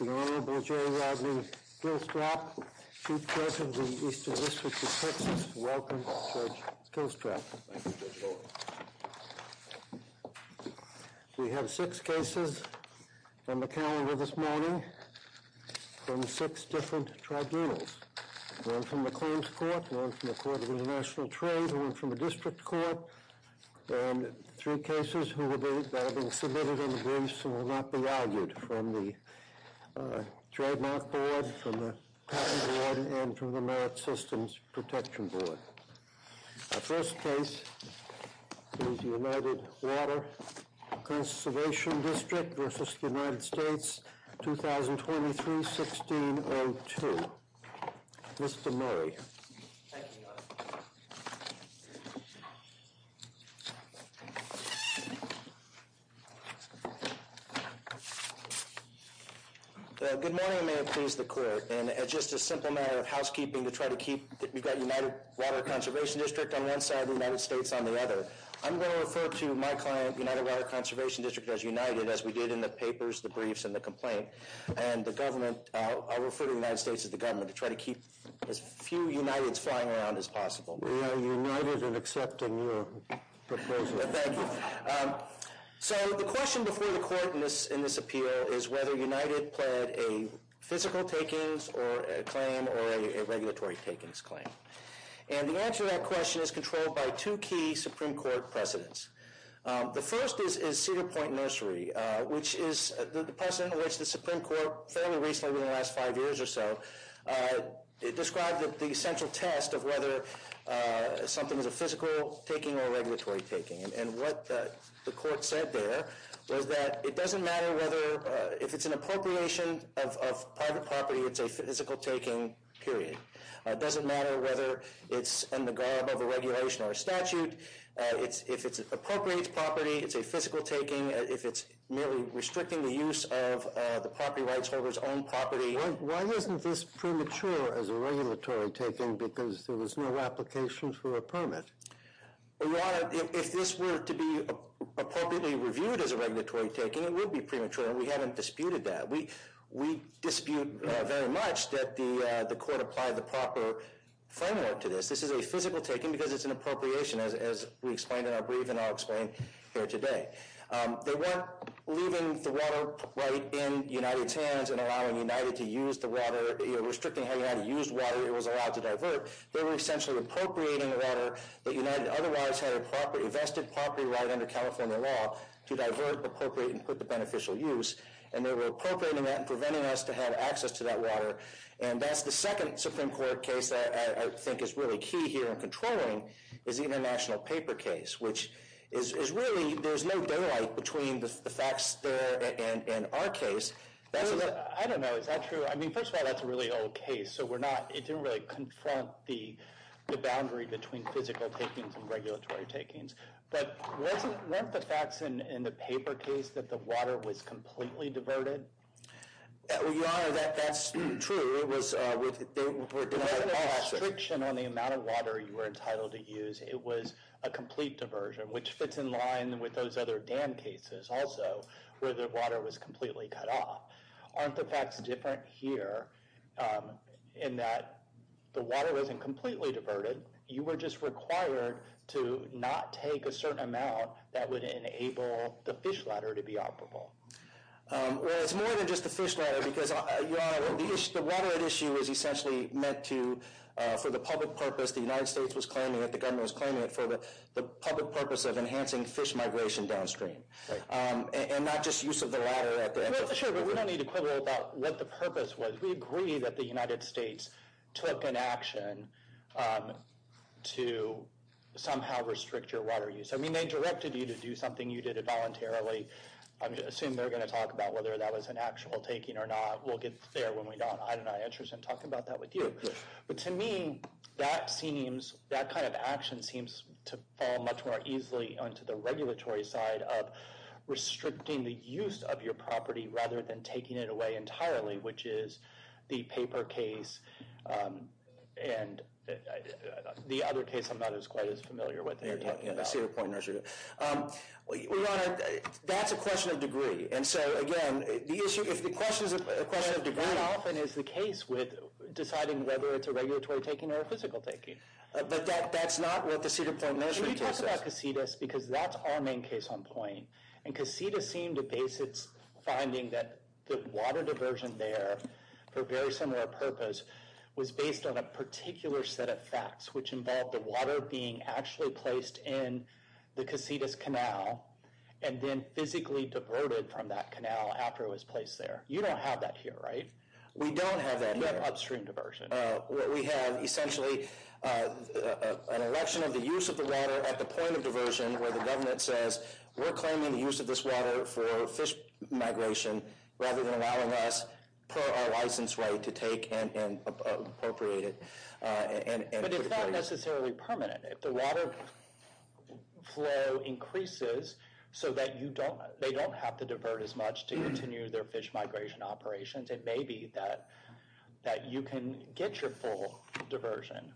The Honorable Jerry Rodney Kilstrap, Chief Judge of the Eastern District of Texas. Welcome, Judge Kilstrap. Thank you, Judge Bowen. We have six cases on the calendar this morning from six different tribunals. One from the Claims Court, one from the Court of International Trade, one from the District Court, and three cases that will be submitted in the briefs and will not be argued from the Trademark Board, from the Patent Board, and from the Merit Systems Protection Board. Our first case is United Water Conservation District v. United States, 2023-1602. Mr. Murray. Good morning, Mayor. Please, the Court. And it's just a simple matter of housekeeping to try to keep that we've got United Water Conservation District on one side, the United States on the other. I'm going to refer to my client, United Water Conservation District, as United, as we did in the papers, the briefs, and the complaint. And the government, I'll refer to the United States as the government, to try to keep as few Uniteds flying around as possible. We are United in accepting your proposal. Thank you. So, the question before the Court in this appeal is whether United pled a physical takings claim or a regulatory takings claim. And the answer to that question is controlled by two key Supreme Court precedents. The first is Cedar Point Nursery, which is the precedent in which the Supreme Court fairly recently, within the last five years or so, described the central test of whether something is a physical taking or a regulatory taking. And what the Court said there was that it doesn't matter whether, if it's an appropriation of private property, it's a physical taking, period. It doesn't matter whether it's in the garb of a regulation or a statute. If it appropriates property, it's a physical taking. If it's merely restricting the use of the property rights holder's own property. Why isn't this premature as a regulatory taking because there was no application for a permit? If this were to be appropriately reviewed as a regulatory taking, it would be premature. We haven't disputed that. We dispute very much that the Court applied the proper framework to this. This is a physical taking because it's an appropriation, as we explained in our brief and I'll explain here today. They weren't leaving the water right in United's hands and allowing United to use the water, restricting how United used water. It was allowed to divert. They were essentially appropriating the water that United otherwise had a vested property right under California law to divert, appropriate, and put to beneficial use. And they were appropriating that and preventing us to have access to that water. And that's the second Supreme Court case that I think is really key here in controlling is the international paper case, which is really, there's no daylight between the facts in our case. I don't know. Is that true? I mean, first of all, that's a really old case, so we're not, it didn't really confront the boundary between physical takings and regulatory takings. But weren't the facts in the paper case that the water was completely diverted? Well, Your Honor, that's true. It was with the restriction on the amount of water you were entitled to use. It was a complete diversion, which fits in line with those other dam cases also, where the water was completely cut off. Aren't the facts different here in that the water wasn't completely diverted? You were just required to not take a certain amount that would enable the fish ladder to be operable. Well, it's more than just the fish ladder because, Your Honor, the water at issue was essentially meant to, for the public purpose, the United States was claiming it, the government was claiming it for the public purpose of enhancing fish migration downstream, and not just use of the ladder at the end of the day. Sure, but we don't need to quibble about what the purpose was. We agree that the United States took an action to somehow restrict your water use. I mean, they directed you to do something. You did it voluntarily. I assume they're going to talk about whether that was an actual taking or not. We'll get there when we don't. I don't know. I'm interested in talking about that with you. But to me, that kind of action seems to fall much more easily onto the regulatory side of restricting the use of your property rather than taking it away entirely, which is the paper case and the other case I'm not quite as familiar with. Yeah, I see your point, Your Honor. Well, Your Honor, that's a question of degree. And so, again, if the question is a question of degree, that often is the case with deciding whether it's a regulatory taking or a physical taking. But that's not what the Cedar Point Measurement case is. Can we talk about Casitas? Because that's our main case on point. And Casitas seemed to base its finding that the water diversion there for a very similar purpose was based on a particular set of facts, which involved the water being actually placed in the Casitas Canal and then physically diverted from that canal after it was placed there. You don't have that here, right? We don't have that here. You have upstream diversion. We have essentially an election of the use of the water at the point of diversion where the government says, we're claiming the use of this water for fish migration rather than allowing us, per our license right, to take and appropriate it. But it's not necessarily permanent. If the water flow increases so that they don't have to divert as much to continue their fish migration operations, it may be that you can get your full diversion.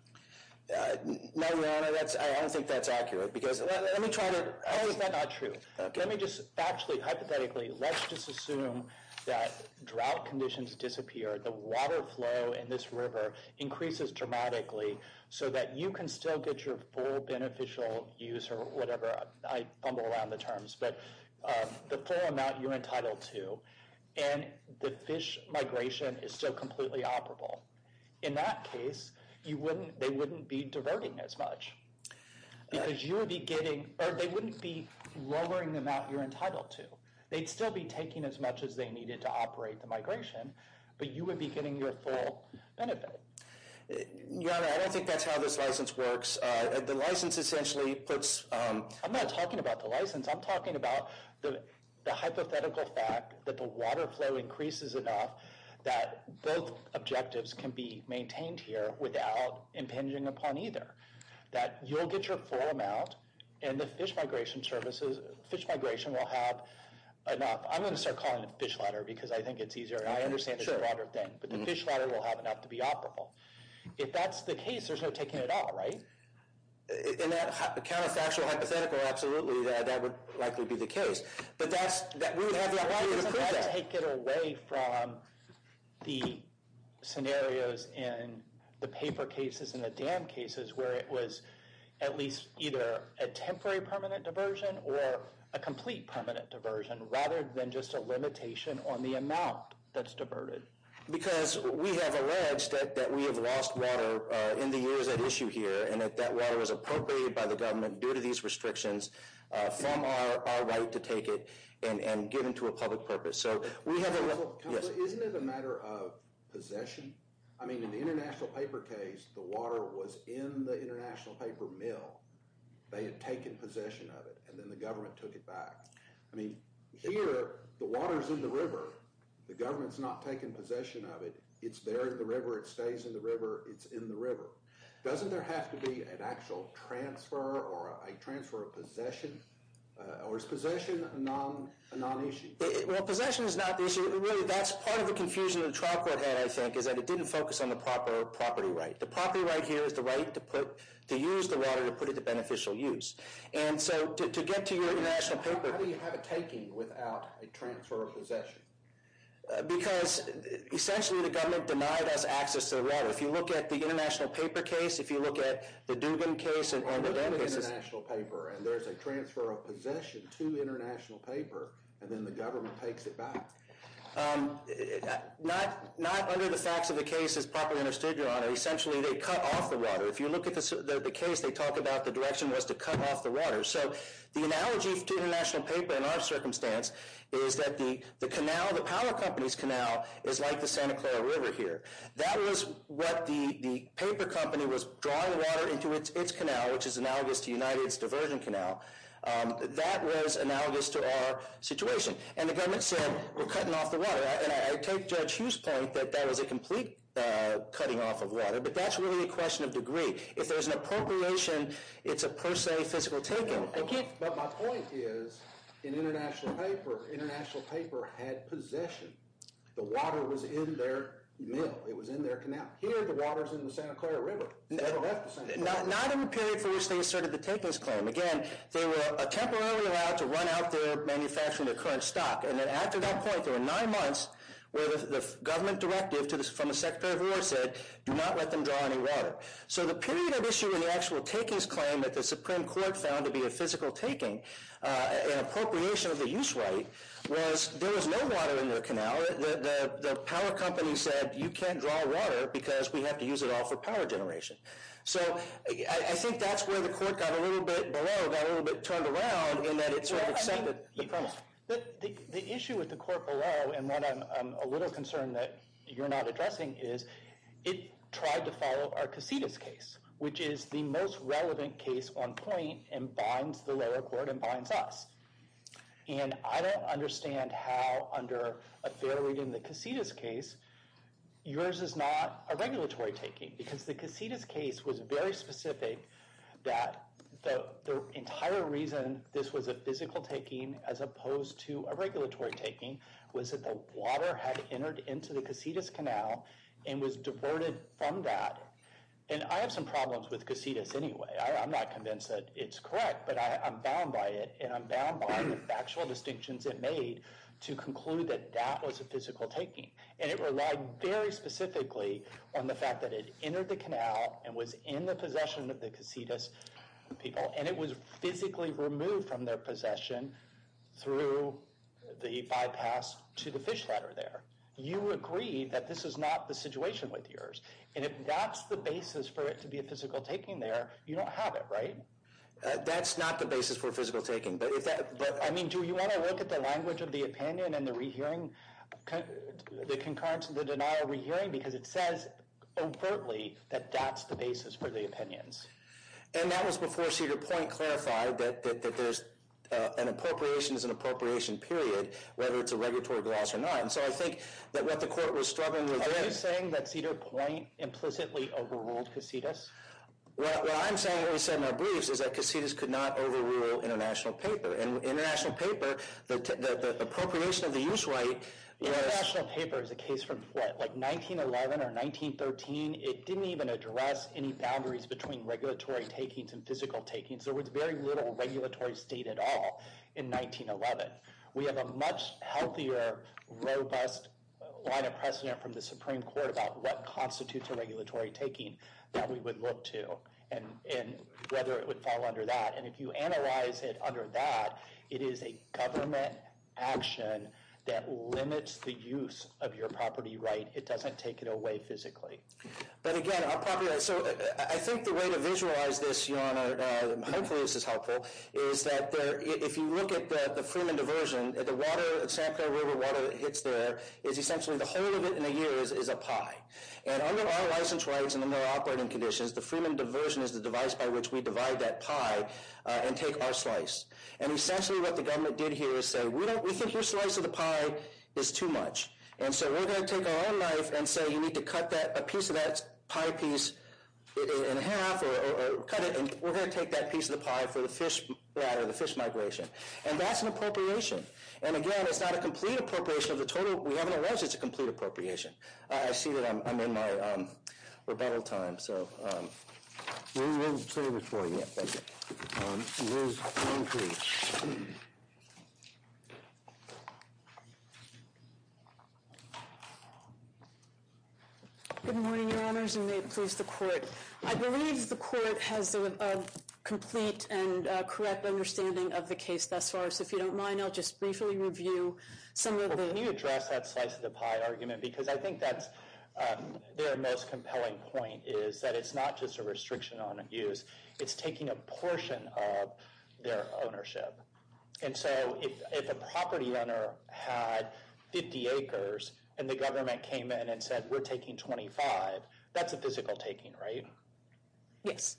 No, Your Honor, I don't think that's accurate. Because let me try to... Oh, is that not true? Let me just factually, hypothetically, let's just assume that drought conditions disappear, the water flow in this river increases dramatically so that you can still get your full beneficial use or whatever, I fumble around the terms, but the full amount you're entitled to and the fish migration is still completely operable. In that case, they wouldn't be diverting as much because you would be getting, or they wouldn't be lowering the amount you're entitled to. They'd still be taking as much as they needed to operate the migration, but you would be getting your full benefit. Your Honor, I don't think that's how this license works. The license essentially puts... I'm not talking about the license. I'm talking about the hypothetical fact that the water flow increases enough that both objectives can be maintained here without impinging upon either, that you'll get your full amount and the fish migration services, fish migration will have enough. I'm going to start calling it fish ladder because I think it's easier. I understand the broader thing, but the fish ladder will have enough to be operable. If that's the case, there's no taking it all, right? In that counterfactual hypothetical, absolutely, that would likely be the case. But that's, we would have the authority to prove that. Why doesn't that take it away from the scenarios in the paper cases and the dam cases where it was at least either a temporary permanent diversion or a complete permanent diversion rather than just a limitation on the amount that's diverted? Because we have alleged that we have lost water in the years at issue here and that that water was appropriated by the government due to these restrictions from our right to take it and give it to a public purpose. So we have... Counselor, isn't it a matter of possession? I mean, in the international paper case, the water was in the international paper mill. They had taken possession of it and then the government took it back. I mean, here, the water's in the river. The government's not taking possession of it. It's there in the river. It stays in the river. It's in the river. Doesn't there have to be an actual transfer or a transfer of possession? Or is possession a non-issue? Well, possession is not the issue. Really, that's part of the confusion the trial court had, I think, is that it didn't focus on the proper property right. The property right here is the right to put, to use the water to put it to beneficial use. And so to get to your international paper... How do you have a taking without a transfer of possession? Because, essentially, the government denied us access to the water. If you look at the international paper case, if you look at the Dugan case... Or look at the international paper and there's a transfer of possession to international paper and then the government takes it back. Not under the facts of the case is properly understood, Your Honor. Essentially, they cut off the water. If you look at the case, they talk about the direction was to cut off the water. So the analogy to international paper in our circumstance is that the canal, the power company's canal, is like the Santa Clara River here. That was what the paper company was drawing water into its canal, which is analogous to United's diversion canal. That was analogous to our situation. And the government said, we're cutting off the water. And I take Judge Hughes' point that that was a complete cutting off of water. But that's really a question of degree. If there's an appropriation, it's a per se physical taking. But my point is, in international paper, international paper had possession. The water was in their mill. It was in their canal. Here, the water's in the Santa Clara River. Not in the period for which they asserted the takings claim. Again, they were temporarily allowed to run out their manufacturing, their current stock. And then after that point, there were nine months where the government directive from the Secretary of War said, do not let them draw any water. So the period of issue in the actual takings claim that the Supreme Court found to be a physical taking, an appropriation of the use right, was there was no water in their canal. The power company said, you can't draw water because we have to use it all for power generation. So I think that's where the court got a little bit below, got a little bit turned around, in that it sort of accepted the promise. The issue with the court below, and what I'm a little concerned that you're not addressing, is it tried to follow our Casitas case, which is the most relevant case on point, and binds the lower court and binds us. And I don't understand how, under a fair reading, the Casitas case, yours is not a regulatory taking. Because the Casitas case was very specific that the entire reason this was a physical taking as opposed to a regulatory taking was that the water had entered into the Casitas canal and was diverted from that. And I have some problems with Casitas anyway. I'm not convinced that it's correct, but I'm bound by it. And I'm bound by the factual distinctions it made to conclude that that was a physical taking. And it relied very specifically on the fact that it entered the canal and was in the possession of the Casitas people. And it was physically removed from their possession through the bypass to the fish ladder there. You agree that this is not the situation with yours. And if that's the basis for it to be a physical taking there, you don't have it, right? That's not the basis for physical taking. But if that, I mean, do you want to look at the language of the opinion and the rehearing, the concurrence, the denial of rehearing? Because it says overtly that that's the basis for the opinions. And that was before Cedar Point clarified that there's an appropriations and appropriation period, whether it's a regulatory gloss or not. And so I think that what the court was struggling with- Are you saying that Cedar Point implicitly overruled Casitas? Well, I'm saying what we said in our briefs is that Casitas could not overrule international paper. And international paper, the appropriation of the use right- International paper is a case from what, like 1911 or 1913? It didn't even address any boundaries between regulatory takings and physical takings. There was very little regulatory state at all in 1911. We have a much healthier, robust line of precedent from the Supreme Court about what constitutes a regulatory taking that we would look to, and whether it would fall under that. And if you analyze it under that, it is a government action that limits the use of your property right. It doesn't take it away physically. But again, I'll probably- So I think the way to visualize this, Your Honor, hopefully this is helpful, is that if you look at the Freeman Diversion, the water, Santa Clara River water that hits there, is essentially the whole of it in a year is a pie. And under our license rights and under our operating conditions, the Freeman Diversion is the device by which we divide that pie and take our slice. And essentially what the government did here is say, we think your slice of the pie is too much. And so we're going to take our own knife and say, we need to cut a piece of that pie piece in half or cut it. And we're going to take that piece of the pie for the fish migration. And that's an appropriation. And again, it's not a complete appropriation of the total. We haven't alleged it's a complete appropriation. I see that I'm in my rebuttal time, so- We didn't say this one yet, did we? Ms. Humphreys. Good morning, Your Honors, and may it please the Court. I believe the Court has a complete and correct understanding of the case thus far. So if you don't mind, I'll just briefly review some of the- Well, can you address that slice of the pie argument? Because I think that's their most compelling point, is that it's not just a restriction on use. It's taking a portion of their ownership. And so if a property owner had 50 acres, and the government came in and said, we're taking 25, that's a physical taking, right? Yes.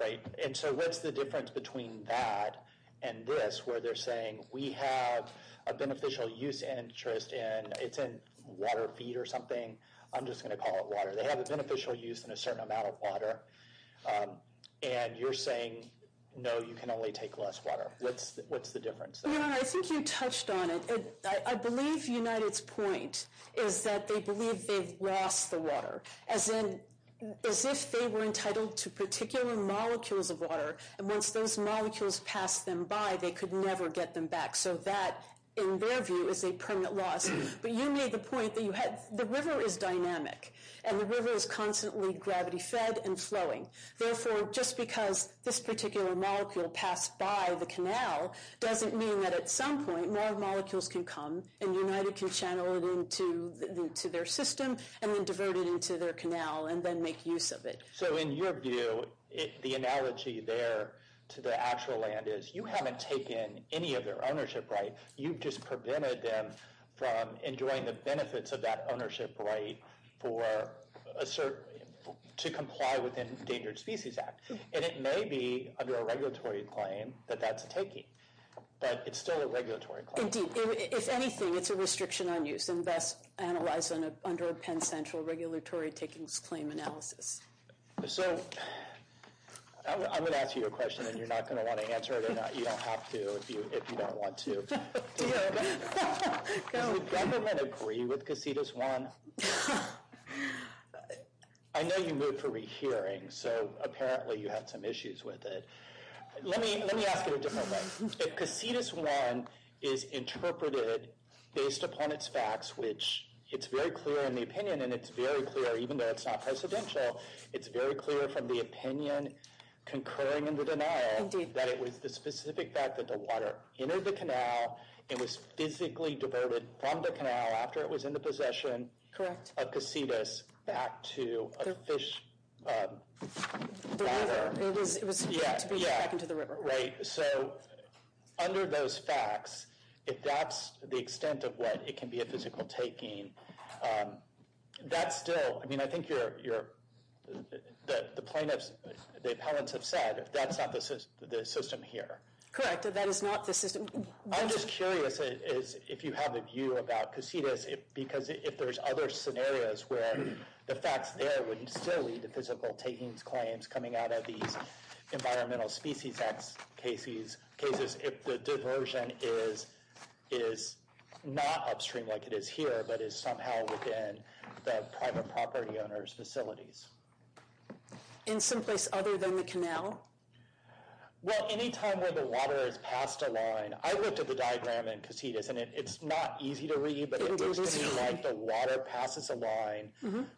Right. And so what's the difference between that and this, where they're saying, we have a beneficial use interest, and it's in water feed or something. I'm just going to call it water. They have a beneficial use in a certain amount of water. And you're saying, no, you can only take less water. What's the difference? Your Honor, I think you touched on it. I believe United's point is that they believe they've lost the water, as if they were entitled to particular molecules of water. And once those molecules pass them by, they could never get them back. So that, in their view, is a permanent loss. But you made the point that you had- And the river is constantly gravity-fed and flowing. Therefore, just because this particular molecule passed by the canal doesn't mean that at some point, more molecules can come, and United can channel it into their system, and then divert it into their canal, and then make use of it. So in your view, the analogy there to the actual land is, you haven't taken any of their ownership, right? You've just prevented them from enjoying the benefits of that ownership right to comply with the Endangered Species Act. And it may be, under a regulatory claim, that that's a taking. But it's still a regulatory claim. Indeed. If anything, it's a restriction on use, and best analyzed under a Penn Central regulatory takings claim analysis. So I'm going to ask you a question, and you're not going to want to answer it or not. You don't have to, if you don't want to. Dio, does the government agree with Cassidus 1? I know you moved for rehearing, so apparently you had some issues with it. Let me ask it a different way. If Cassidus 1 is interpreted based upon its facts, which it's very clear in the opinion, and it's very clear, even though it's not presidential, it's very clear from the opinion concurring in the denial, that it was the specific fact that the water entered the canal, it was physically diverted from the canal, after it was in the possession of Cassidus, back to a fish... The river, it was to be taken to the river. Right. So under those facts, if that's the extent of what it can be a physical taking, that's still, I mean, I think the plaintiffs, the appellants have said, that's not the system here. Correct, that is not the system. I'm just curious if you have a view about Cassidus, because if there's other scenarios where the facts there would still lead to physical takings, claims coming out of these environmental species cases, if the diversion is not upstream like it is here, but is somehow within the private property owners' facilities. In some place other than the canal? Well, any time where the water has passed a line, I looked at the diagram in Cassidus, and it's not easy to read, but it looks to me like the water passes a line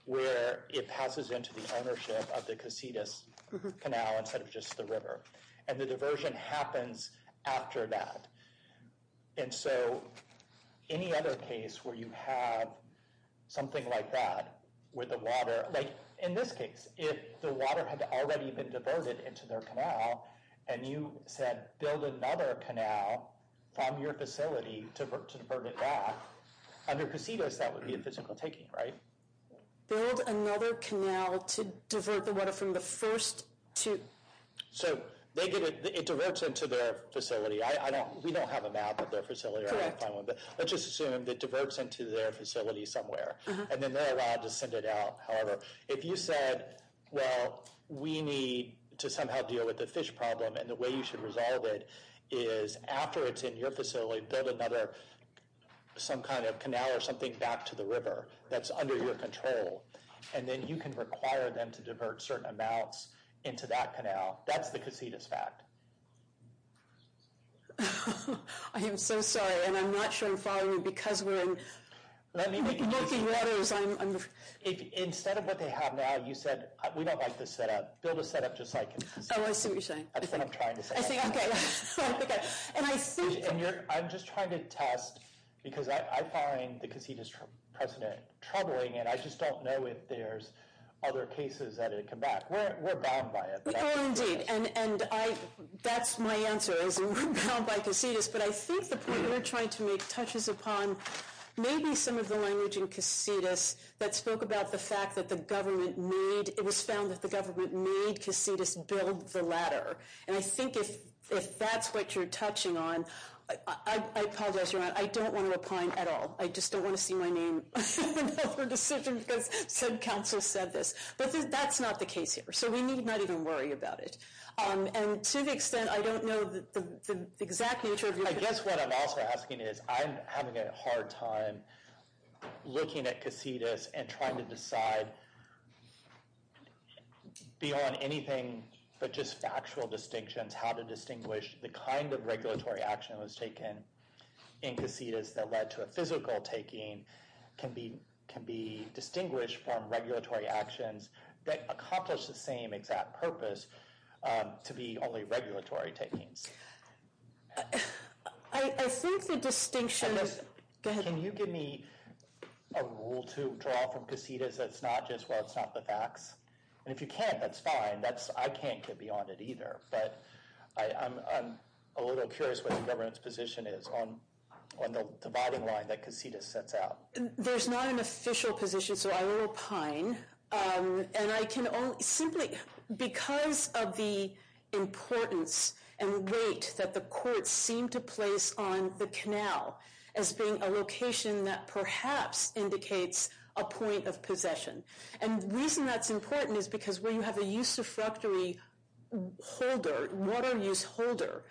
where it passes into the ownership of the Cassidus Canal, instead of just the river. And the diversion happens after that. And so any other case where you have something like that, with the water, like in this case, if the water had already been diverted into their canal, and you said, build another canal from your facility to divert it back, under Cassidus, that would be a physical taking, right? Build another canal to divert the water from the first to... So they get it, it diverts into their facility. I don't, we don't have a map of their facility. Let's just assume it diverts into their facility somewhere. And then they're allowed to send it out. However, if you said, well, we need to somehow deal with the fish problem, and the way you should resolve it is after it's in your facility, build another, some kind of canal or something back to the river that's under your control. And then you can require them to divert certain amounts into that canal. That's the Cassidus fact. I am so sorry, and I'm not sure I'm following you because we're in milky waters. Instead of what they have now, you said, we don't like this setup. Build a setup just like in Cassidus. Oh, I see what you're saying. That's what I'm trying to say. I see, okay. I'm just trying to test, because I find the Cassidus precedent troubling, and I just don't know if there's other cases that come back. We're bound by it. Oh, indeed, and that's my answer, is we're bound by Cassidus. But I think the point you're trying to make touches upon maybe some of the language in Cassidus that spoke about the fact that the government made, it was found that the government made Cassidus build the ladder. And I think if that's what you're touching on, I apologize, Your Honor, I don't want to opine at all. I just don't want to see my name in another decision because said council said this. But that's not the case here. So we need not even worry about it. And to the extent, I don't know the exact nature of your- I guess what I'm also asking is, I'm having a hard time looking at Cassidus and trying to decide beyond anything, but just factual distinctions, how to distinguish the kind of regulatory action that was taken in Cassidus that led to a physical taking can be distinguished from regulatory actions that accomplish the same exact purpose to be only regulatory takings. I think the distinction is- And Liz, can you give me a rule to draw from Cassidus that's not just, well, it's not the facts? And if you can't, that's fine. I can't get beyond it either. But I'm a little curious what the government's position is on the dividing line that Cassidus sets out. There's not an official position, so I will opine. And I can only, simply because of the importance and weight that the courts seem to place on the canal as being a location that perhaps indicates a point of possession. And the reason that's important is because when you have a usufructory holder, water use holder,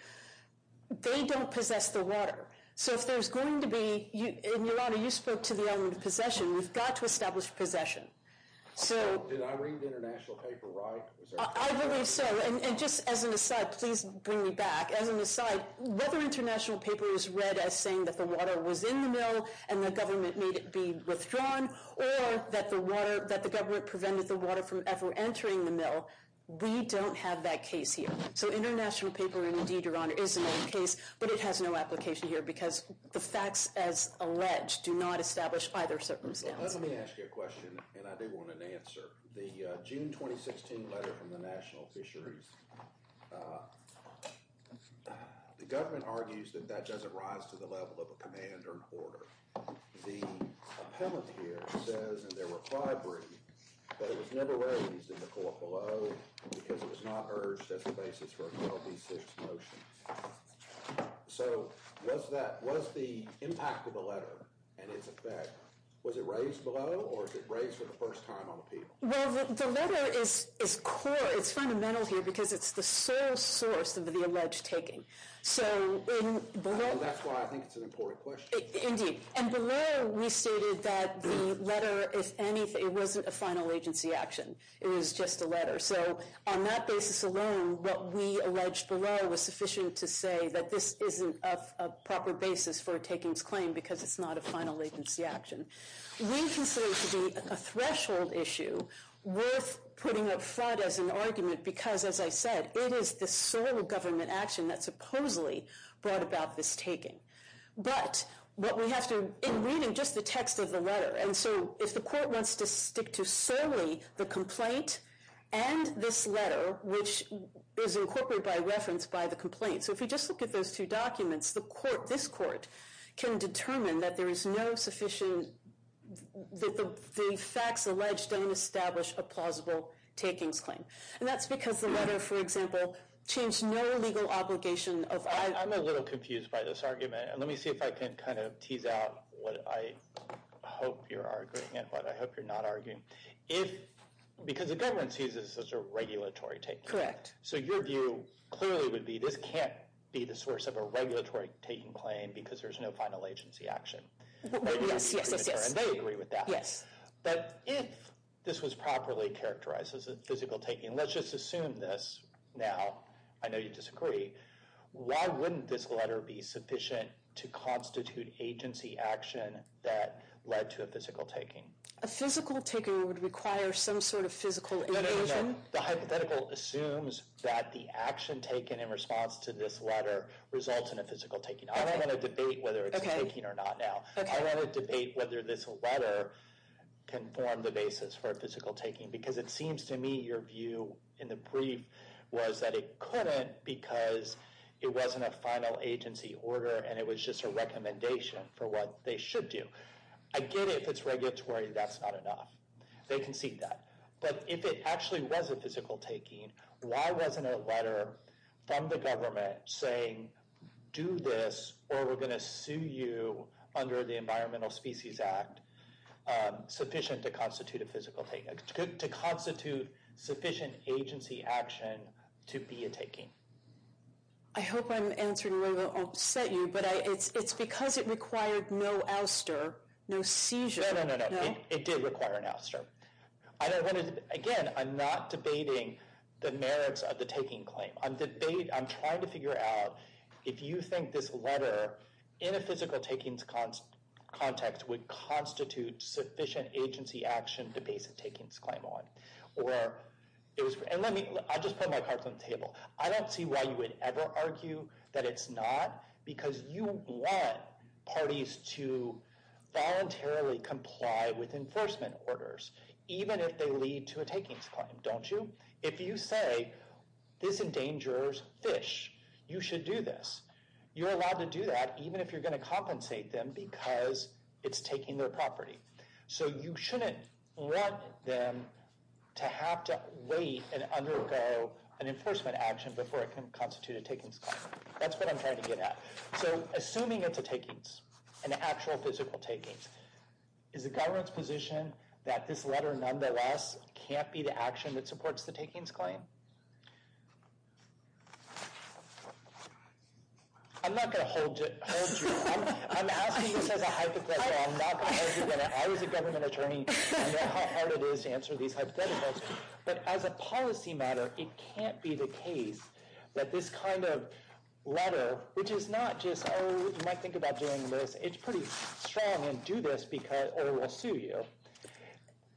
they don't possess the water. So if there's going to be- And Yolanda, you spoke to the element of possession. We've got to establish possession. So- Did I read the international paper right? I believe so. And just as an aside, please bring me back. As an aside, whether international paper is read as saying that the water was in the mill and the government made it be withdrawn or that the government prevented the water from ever entering the mill, we don't have that case here. So international paper, and indeed, Your Honor, is another case, but it has no application here because the facts as alleged do not establish either circumstance. Let me ask you a question, and I do want an answer. The June 2016 letter from the National Fisheries, the government argues that that doesn't rise to the level of a command or an order. The appellate here says, and there were five written, that it was never raised in the court below because it was not urged as the basis for an LB6 motion. So was the impact of the letter and its effect, was it raised below or was it raised for the first time on appeal? Well, the letter is core. It's fundamental here because it's the sole source of the alleged taking. So in below- And that's why I think it's an important question. Indeed. And below, we stated that the letter, if anything, wasn't a final agency action. It was just a letter. So on that basis alone, what we alleged below was sufficient to say that this isn't a proper basis for a takings claim because it's not a final agency action. We consider it to be a threshold issue worth putting up front as an argument because, as I said, it is the sole government action that supposedly brought about this taking. But what we have to- In reading just the text of the letter, and so if the court wants to stick to solely the complaint and this letter, which is incorporated by reference by the complaint. So if you just look at those two documents, the court, this court, can determine that there is no sufficient- The facts alleged don't establish a plausible takings claim. And that's because the letter, for example, changed no legal obligation of- I'm a little confused by this argument. And let me see if I can kind of tease out what I hope you're arguing and what I hope you're not arguing. Because the government sees this as a regulatory taking. Correct. So your view clearly would be this can't be the source of a regulatory taking claim because there's no final agency action. Yes, yes, yes, yes. And they agree with that. Yes. But if this was properly characterized as a physical taking, let's just assume this now. I know you disagree. Why wouldn't this letter be sufficient to constitute agency action that led to a physical taking? A physical taking would require some sort of physical invasion. The hypothetical assumes that the action taken in response to this letter results in a physical taking. I don't want to debate whether it's a taking or not now. I want to debate whether this letter can form the basis for a physical taking. Because it seems to me your view in the brief was that it couldn't because it wasn't a final agency order and it was just a recommendation for what they should do. I get it if it's regulatory, that's not enough. They can see that. But if it actually was a physical taking, why wasn't a letter from the government saying do this, or we're going to sue you under the Environmental Species Act sufficient to constitute a physical taking, to constitute sufficient agency action to be a taking? I hope I'm answering where I set you. But it's because it required no ouster, no seizure. No, no, no, no. It did require an ouster. I don't want to, again, I'm not debating the merits of the taking claim. I'm trying to figure out if you think this letter in a physical takings context would constitute sufficient agency action to base a takings claim on. I'll just put my cards on the table. I don't see why you would ever argue that it's not because you want parties to voluntarily comply with enforcement orders even if they lead to a takings claim, don't you? If you say this endangers fish, you should do this. You're allowed to do that even if you're going to compensate them because it's taking their property. So you shouldn't want them to have to wait and undergo an enforcement action before it can constitute a takings claim. That's what I'm trying to get at. So assuming it's a takings, an actual physical takings, is the government's position that this letter nonetheless can't be the action that supports the takings claim? I'm not going to hold you. I'm asking this as a hypothetical. I'm not going to argue with it. I was a government attorney. I know how hard it is to answer these hypotheticals. But as a policy matter, it can't be the case that this kind of letter, which is not just, oh, you might think about doing this. It's pretty strong and do this because or we'll sue you.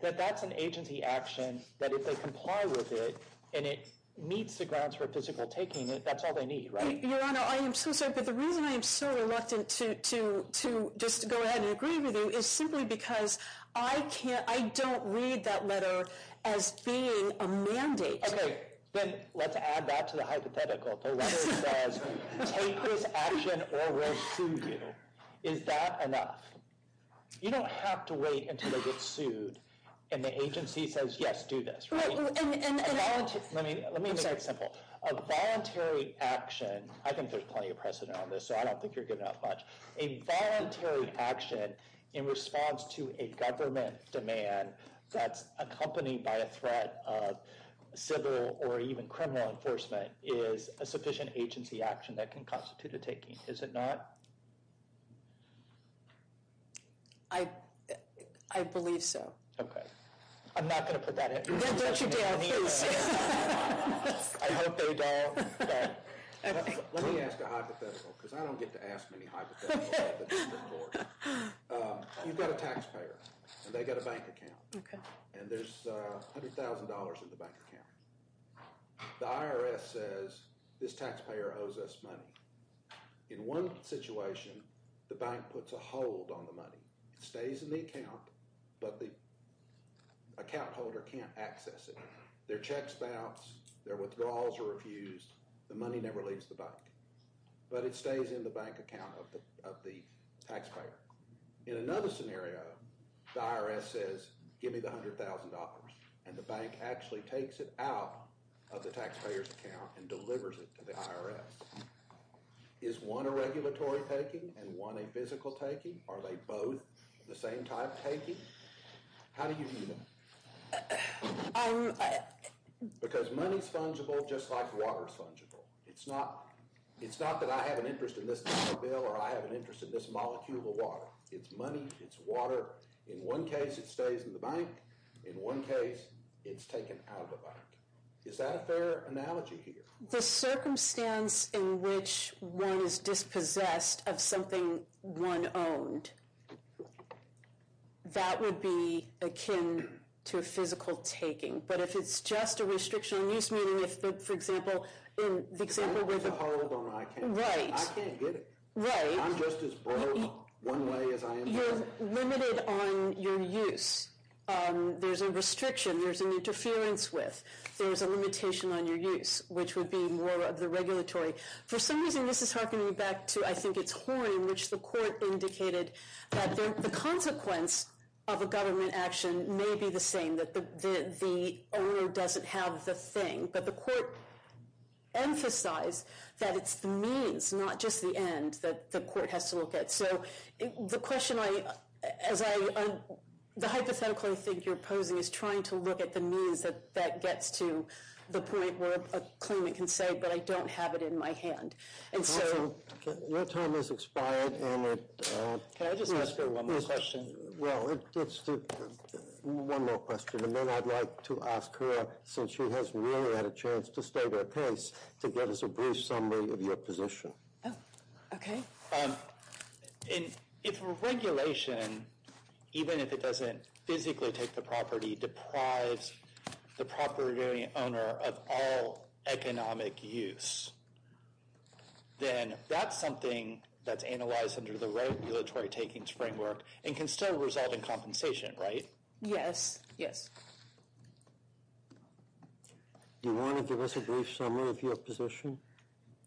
That that's an agency action that if they comply with it and it meets the grounds for physical taking it, that's all they need, right? Your Honor, I am so sorry, but the reason I am so reluctant to just go ahead and agree with you is simply because I can't, I don't read that letter as being a mandate. Okay, then let's add that to the hypothetical. The letter says take this action or we'll sue you. Is that enough? You don't have to wait until they get sued and the agency says, yes, do this, right? Let me make it simple. A voluntary action, I think there's plenty of precedent on this, so I don't think you're giving up much. A voluntary action in response to a government demand that's accompanied by a threat of civil or even criminal enforcement is a sufficient agency action that can constitute a taking. Is it not? I believe so. Okay, I'm not going to put that in. Then don't you dare, please. I hope they don't. Let me ask a hypothetical because I don't get to ask many hypotheticals. You've got a taxpayer and they've got a bank account and there's $100,000 in the bank account. The IRS says this taxpayer owes us money. In one situation, the bank puts a hold on the money. It stays in the account, but the account holder can't access it. Their checks bounce, their withdrawals are refused, the money never leaves the bank, but it stays in the bank account of the taxpayer. In another scenario, the IRS says, give me the $100,000 and the bank actually takes it out of the taxpayer's account and delivers it to the IRS. Is one a regulatory taking and one a physical taking? Are they both the same type taking? How do you know? Because money's fungible just like water's fungible. It's not that I have an interest in this dollar bill or I have an interest in this molecule of water. It's money, it's water. In one case, it stays in the bank. In one case, it's taken out of the bank. Is that a fair analogy here? The circumstance in which one is dispossessed of something one owned, that would be akin to a physical taking. But if it's just a restriction on use, meaning if, for example, the example with the- I'm just a hollow bone, I can't get it. Right. I can't get it. Right. I'm just as bold one way as I am the other. You're limited on your use. There's a restriction, there's an interference with. There's a limitation on your use, which would be more of the regulatory. For some reason, this is hearkening back to, I think it's Horne, in which the court indicated that the consequence of a government action may be the same, that the owner doesn't have the thing. But the court emphasized that it's the means, not just the end, that the court has to look at. So the question I, as I, the hypothetical I think you're posing is trying to look at the means that gets to the point where a claimant can say, but I don't have it in my hand. And so- Counsel, your time has expired and it- Can I just ask her one more question? Well, it's the, one more question. And then I'd like to ask her, since she hasn't really had a chance to state her case, to give us a brief summary of your position. Okay. And if regulation, even if it doesn't physically take the property, deprives the property owner of all economic use, then that's something that's analyzed under the regulatory takings framework and can still result in compensation, right? Yes, yes. Do you want to give us a brief summary of your position?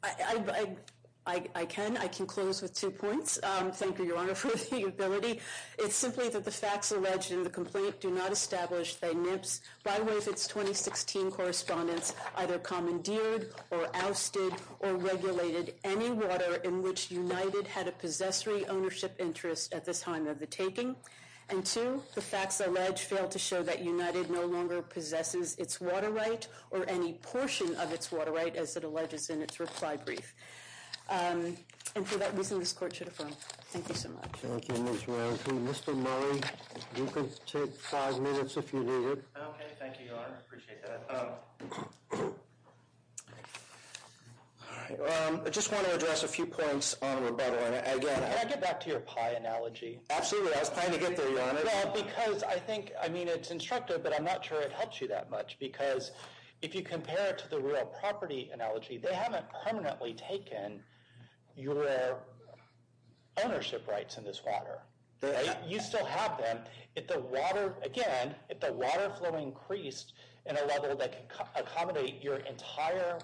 I can. I can close with two points. Thank you, Your Honor, for the ability. It's simply that the facts alleged in the complaint do not establish that NIPS, by way of its 2016 correspondence, either commandeered or ousted or regulated any water in which United had a possessory ownership interest at this time of the taking. And two, the facts alleged fail to show that United no longer possesses its water right or any portion of its water right, as it alleges in its reply brief. And for that reason, this court should affirm. Thank you so much. Thank you, Ms. Rankin. Mr. Murray, you can take five minutes if you need it. Okay, thank you, Your Honor. I appreciate that. All right. I just want to address a few points on rebuttal. And again... Can I get back to your pie analogy? Absolutely. I was planning to get there, Your Honor. Well, because I think, I mean, it's instructive, but I'm not sure it helps you that much. Because if you compare it to the real property analogy, they haven't permanently taken your ownership rights in this water, right? You still have them. Again, if the water flow increased in a level that can accommodate your entire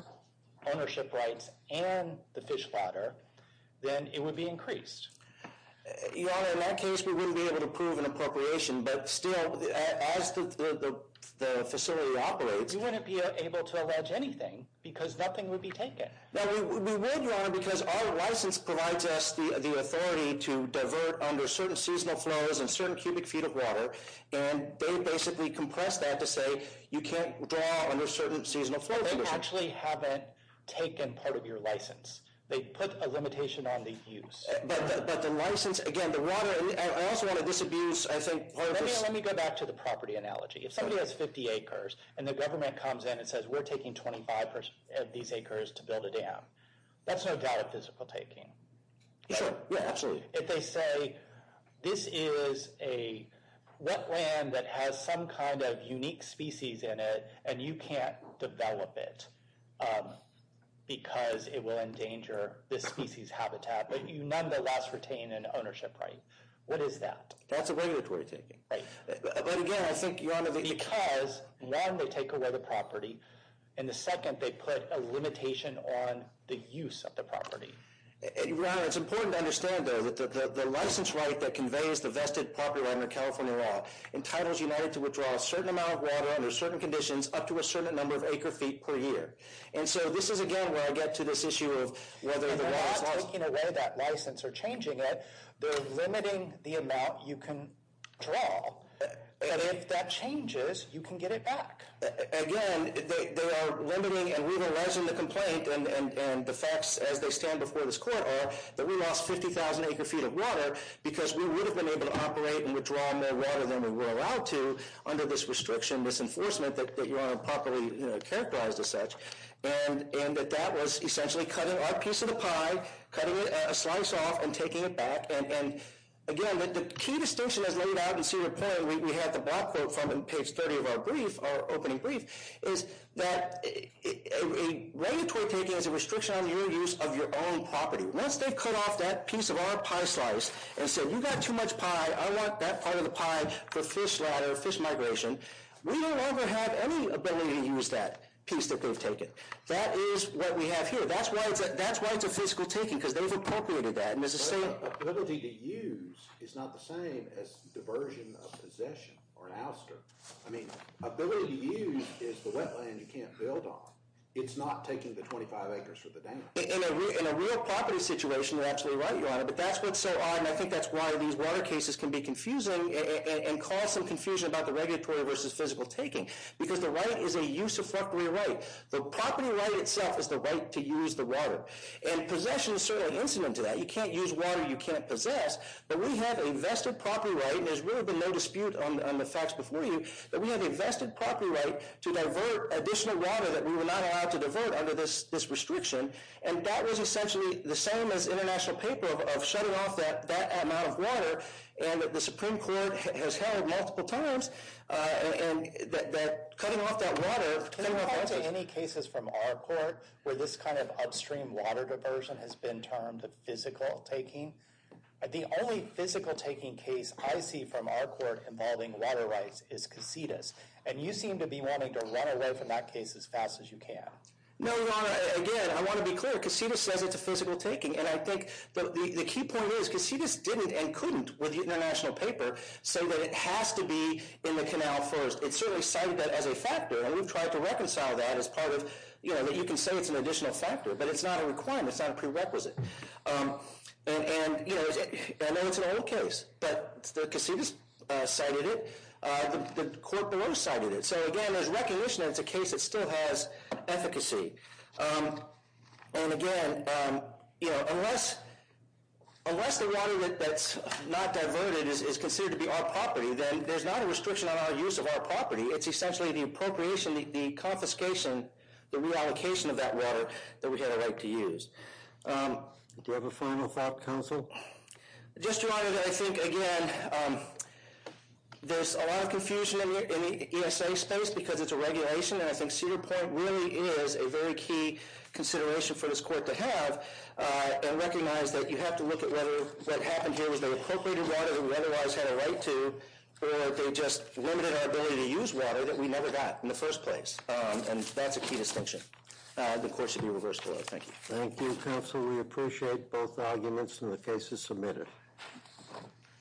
ownership rights and the fish platter, then it would be increased. Your Honor, in that case, we wouldn't be able to prove an appropriation. But still, as the facility operates... You wouldn't be able to allege anything because nothing would be taken. No, we would, Your Honor, because our license provides us the authority to divert under certain seasonal flows in certain cubic feet of water. And they basically compress that to say you can't draw under certain seasonal flow... They actually haven't taken part of your license. They put a limitation on the use. But the license, again, the water... I also want to disabuse, I think... Let me go back to the property analogy. If somebody has 50 acres and the government comes in and says, we're taking 25 of these acres to build a dam, that's no doubt a physical taking. Sure, yeah, absolutely. If they say, this is a wetland that has some kind of unique species in it and you can't develop it because it will endanger this species habitat, but you nonetheless retain an ownership right. What is that? That's a regulatory taking. Right. But again, I think, Your Honor... Because one, they take away the property and the second, they put a limitation on the use of the property. Your Honor, it's important to understand, though, the license right that conveys the vested property right under California law entitles United to withdraw a certain amount of water under certain conditions up to a certain number of acre-feet per year. And so this is, again, where I get to this issue of whether the law is... They're not taking away that license or changing it. They're limiting the amount you can draw. And if that changes, you can get it back. Again, they are limiting... And we've arisen the complaint and the facts as they stand before this Court are that we lost 50,000 acre-feet of water because we would have been able to operate and withdraw more water than we were allowed to under this restriction, this enforcement that Your Honor properly characterized as such. And that that was essentially cutting our piece of the pie, cutting a slice off and taking it back. And again, the key distinction as laid out in Senior Plain, we had the block quote from page 30 of our brief, our opening brief, is that a regulatory taking is a restriction on your use of your own property. Once they cut off that piece of our pie slice and said, you got too much pie, I want that part of the pie for fish ladder, fish migration, we no longer have any ability to use that piece that they've taken. That is what we have here. That's why it's a physical taking because they've appropriated that. And there's a same... But the ability to use is not the same as diversion of possession or an ouster. I mean, ability to use is the wetland you can't build on. It's not taking the 25 acres for the dam. In a real property situation, you're absolutely right, Your Honor. But that's what's so odd. And I think that's why these water cases can be confusing and cause some confusion about the regulatory versus physical taking. Because the right is a use of property right. The property right itself is the right to use the water. And possession is certainly incident to that. You can't use water you can't possess. But we have a vested property right. And there's really been no dispute on the facts before you that we have a vested property right to divert additional water that we were not allowed to divert under this restriction. And that was essentially the same as international paper of shutting off that amount of water. And the Supreme Court has held multiple times and that cutting off that water... Can I go back to any cases from our court where this kind of upstream water diversion has been termed physical taking? The only physical taking case I see from our court involving water rights is Casitas. And you seem to be wanting to run away from that case as fast as you can. No, Your Honor. Again, I want to be clear. Casitas says it's a physical taking. And I think the key point is Casitas didn't and couldn't with international paper say that it has to be in the canal first. It certainly cited that as a factor. And we've tried to reconcile that as part of, you know, that you can say it's an additional factor but it's not a requirement. It's not a prerequisite. And, you know, I know it's an old case that the Casitas cited it. The court below cited it. So again, there's recognition that it's a case that still has efficacy. And again, you know, unless the water that's not diverted is considered to be our property, then there's not a restriction on our use of our property. It's essentially the appropriation, the confiscation, the reallocation of that water that we had a right to use. Do you have a final thought, counsel? Just, Your Honor, that I think, again, there's a lot of confusion in the ESA space because it's a regulation. And I think Cedar Point really is a very key consideration for this court to have and recognize that you have to look at whether what happened here was they appropriated water that we otherwise had a right to or they just limited our ability to use water that we never got in the first place. And that's a key distinction. The court should be reversed, Your Honor. Thank you. Thank you, counsel. We appreciate both arguments and the cases submitted.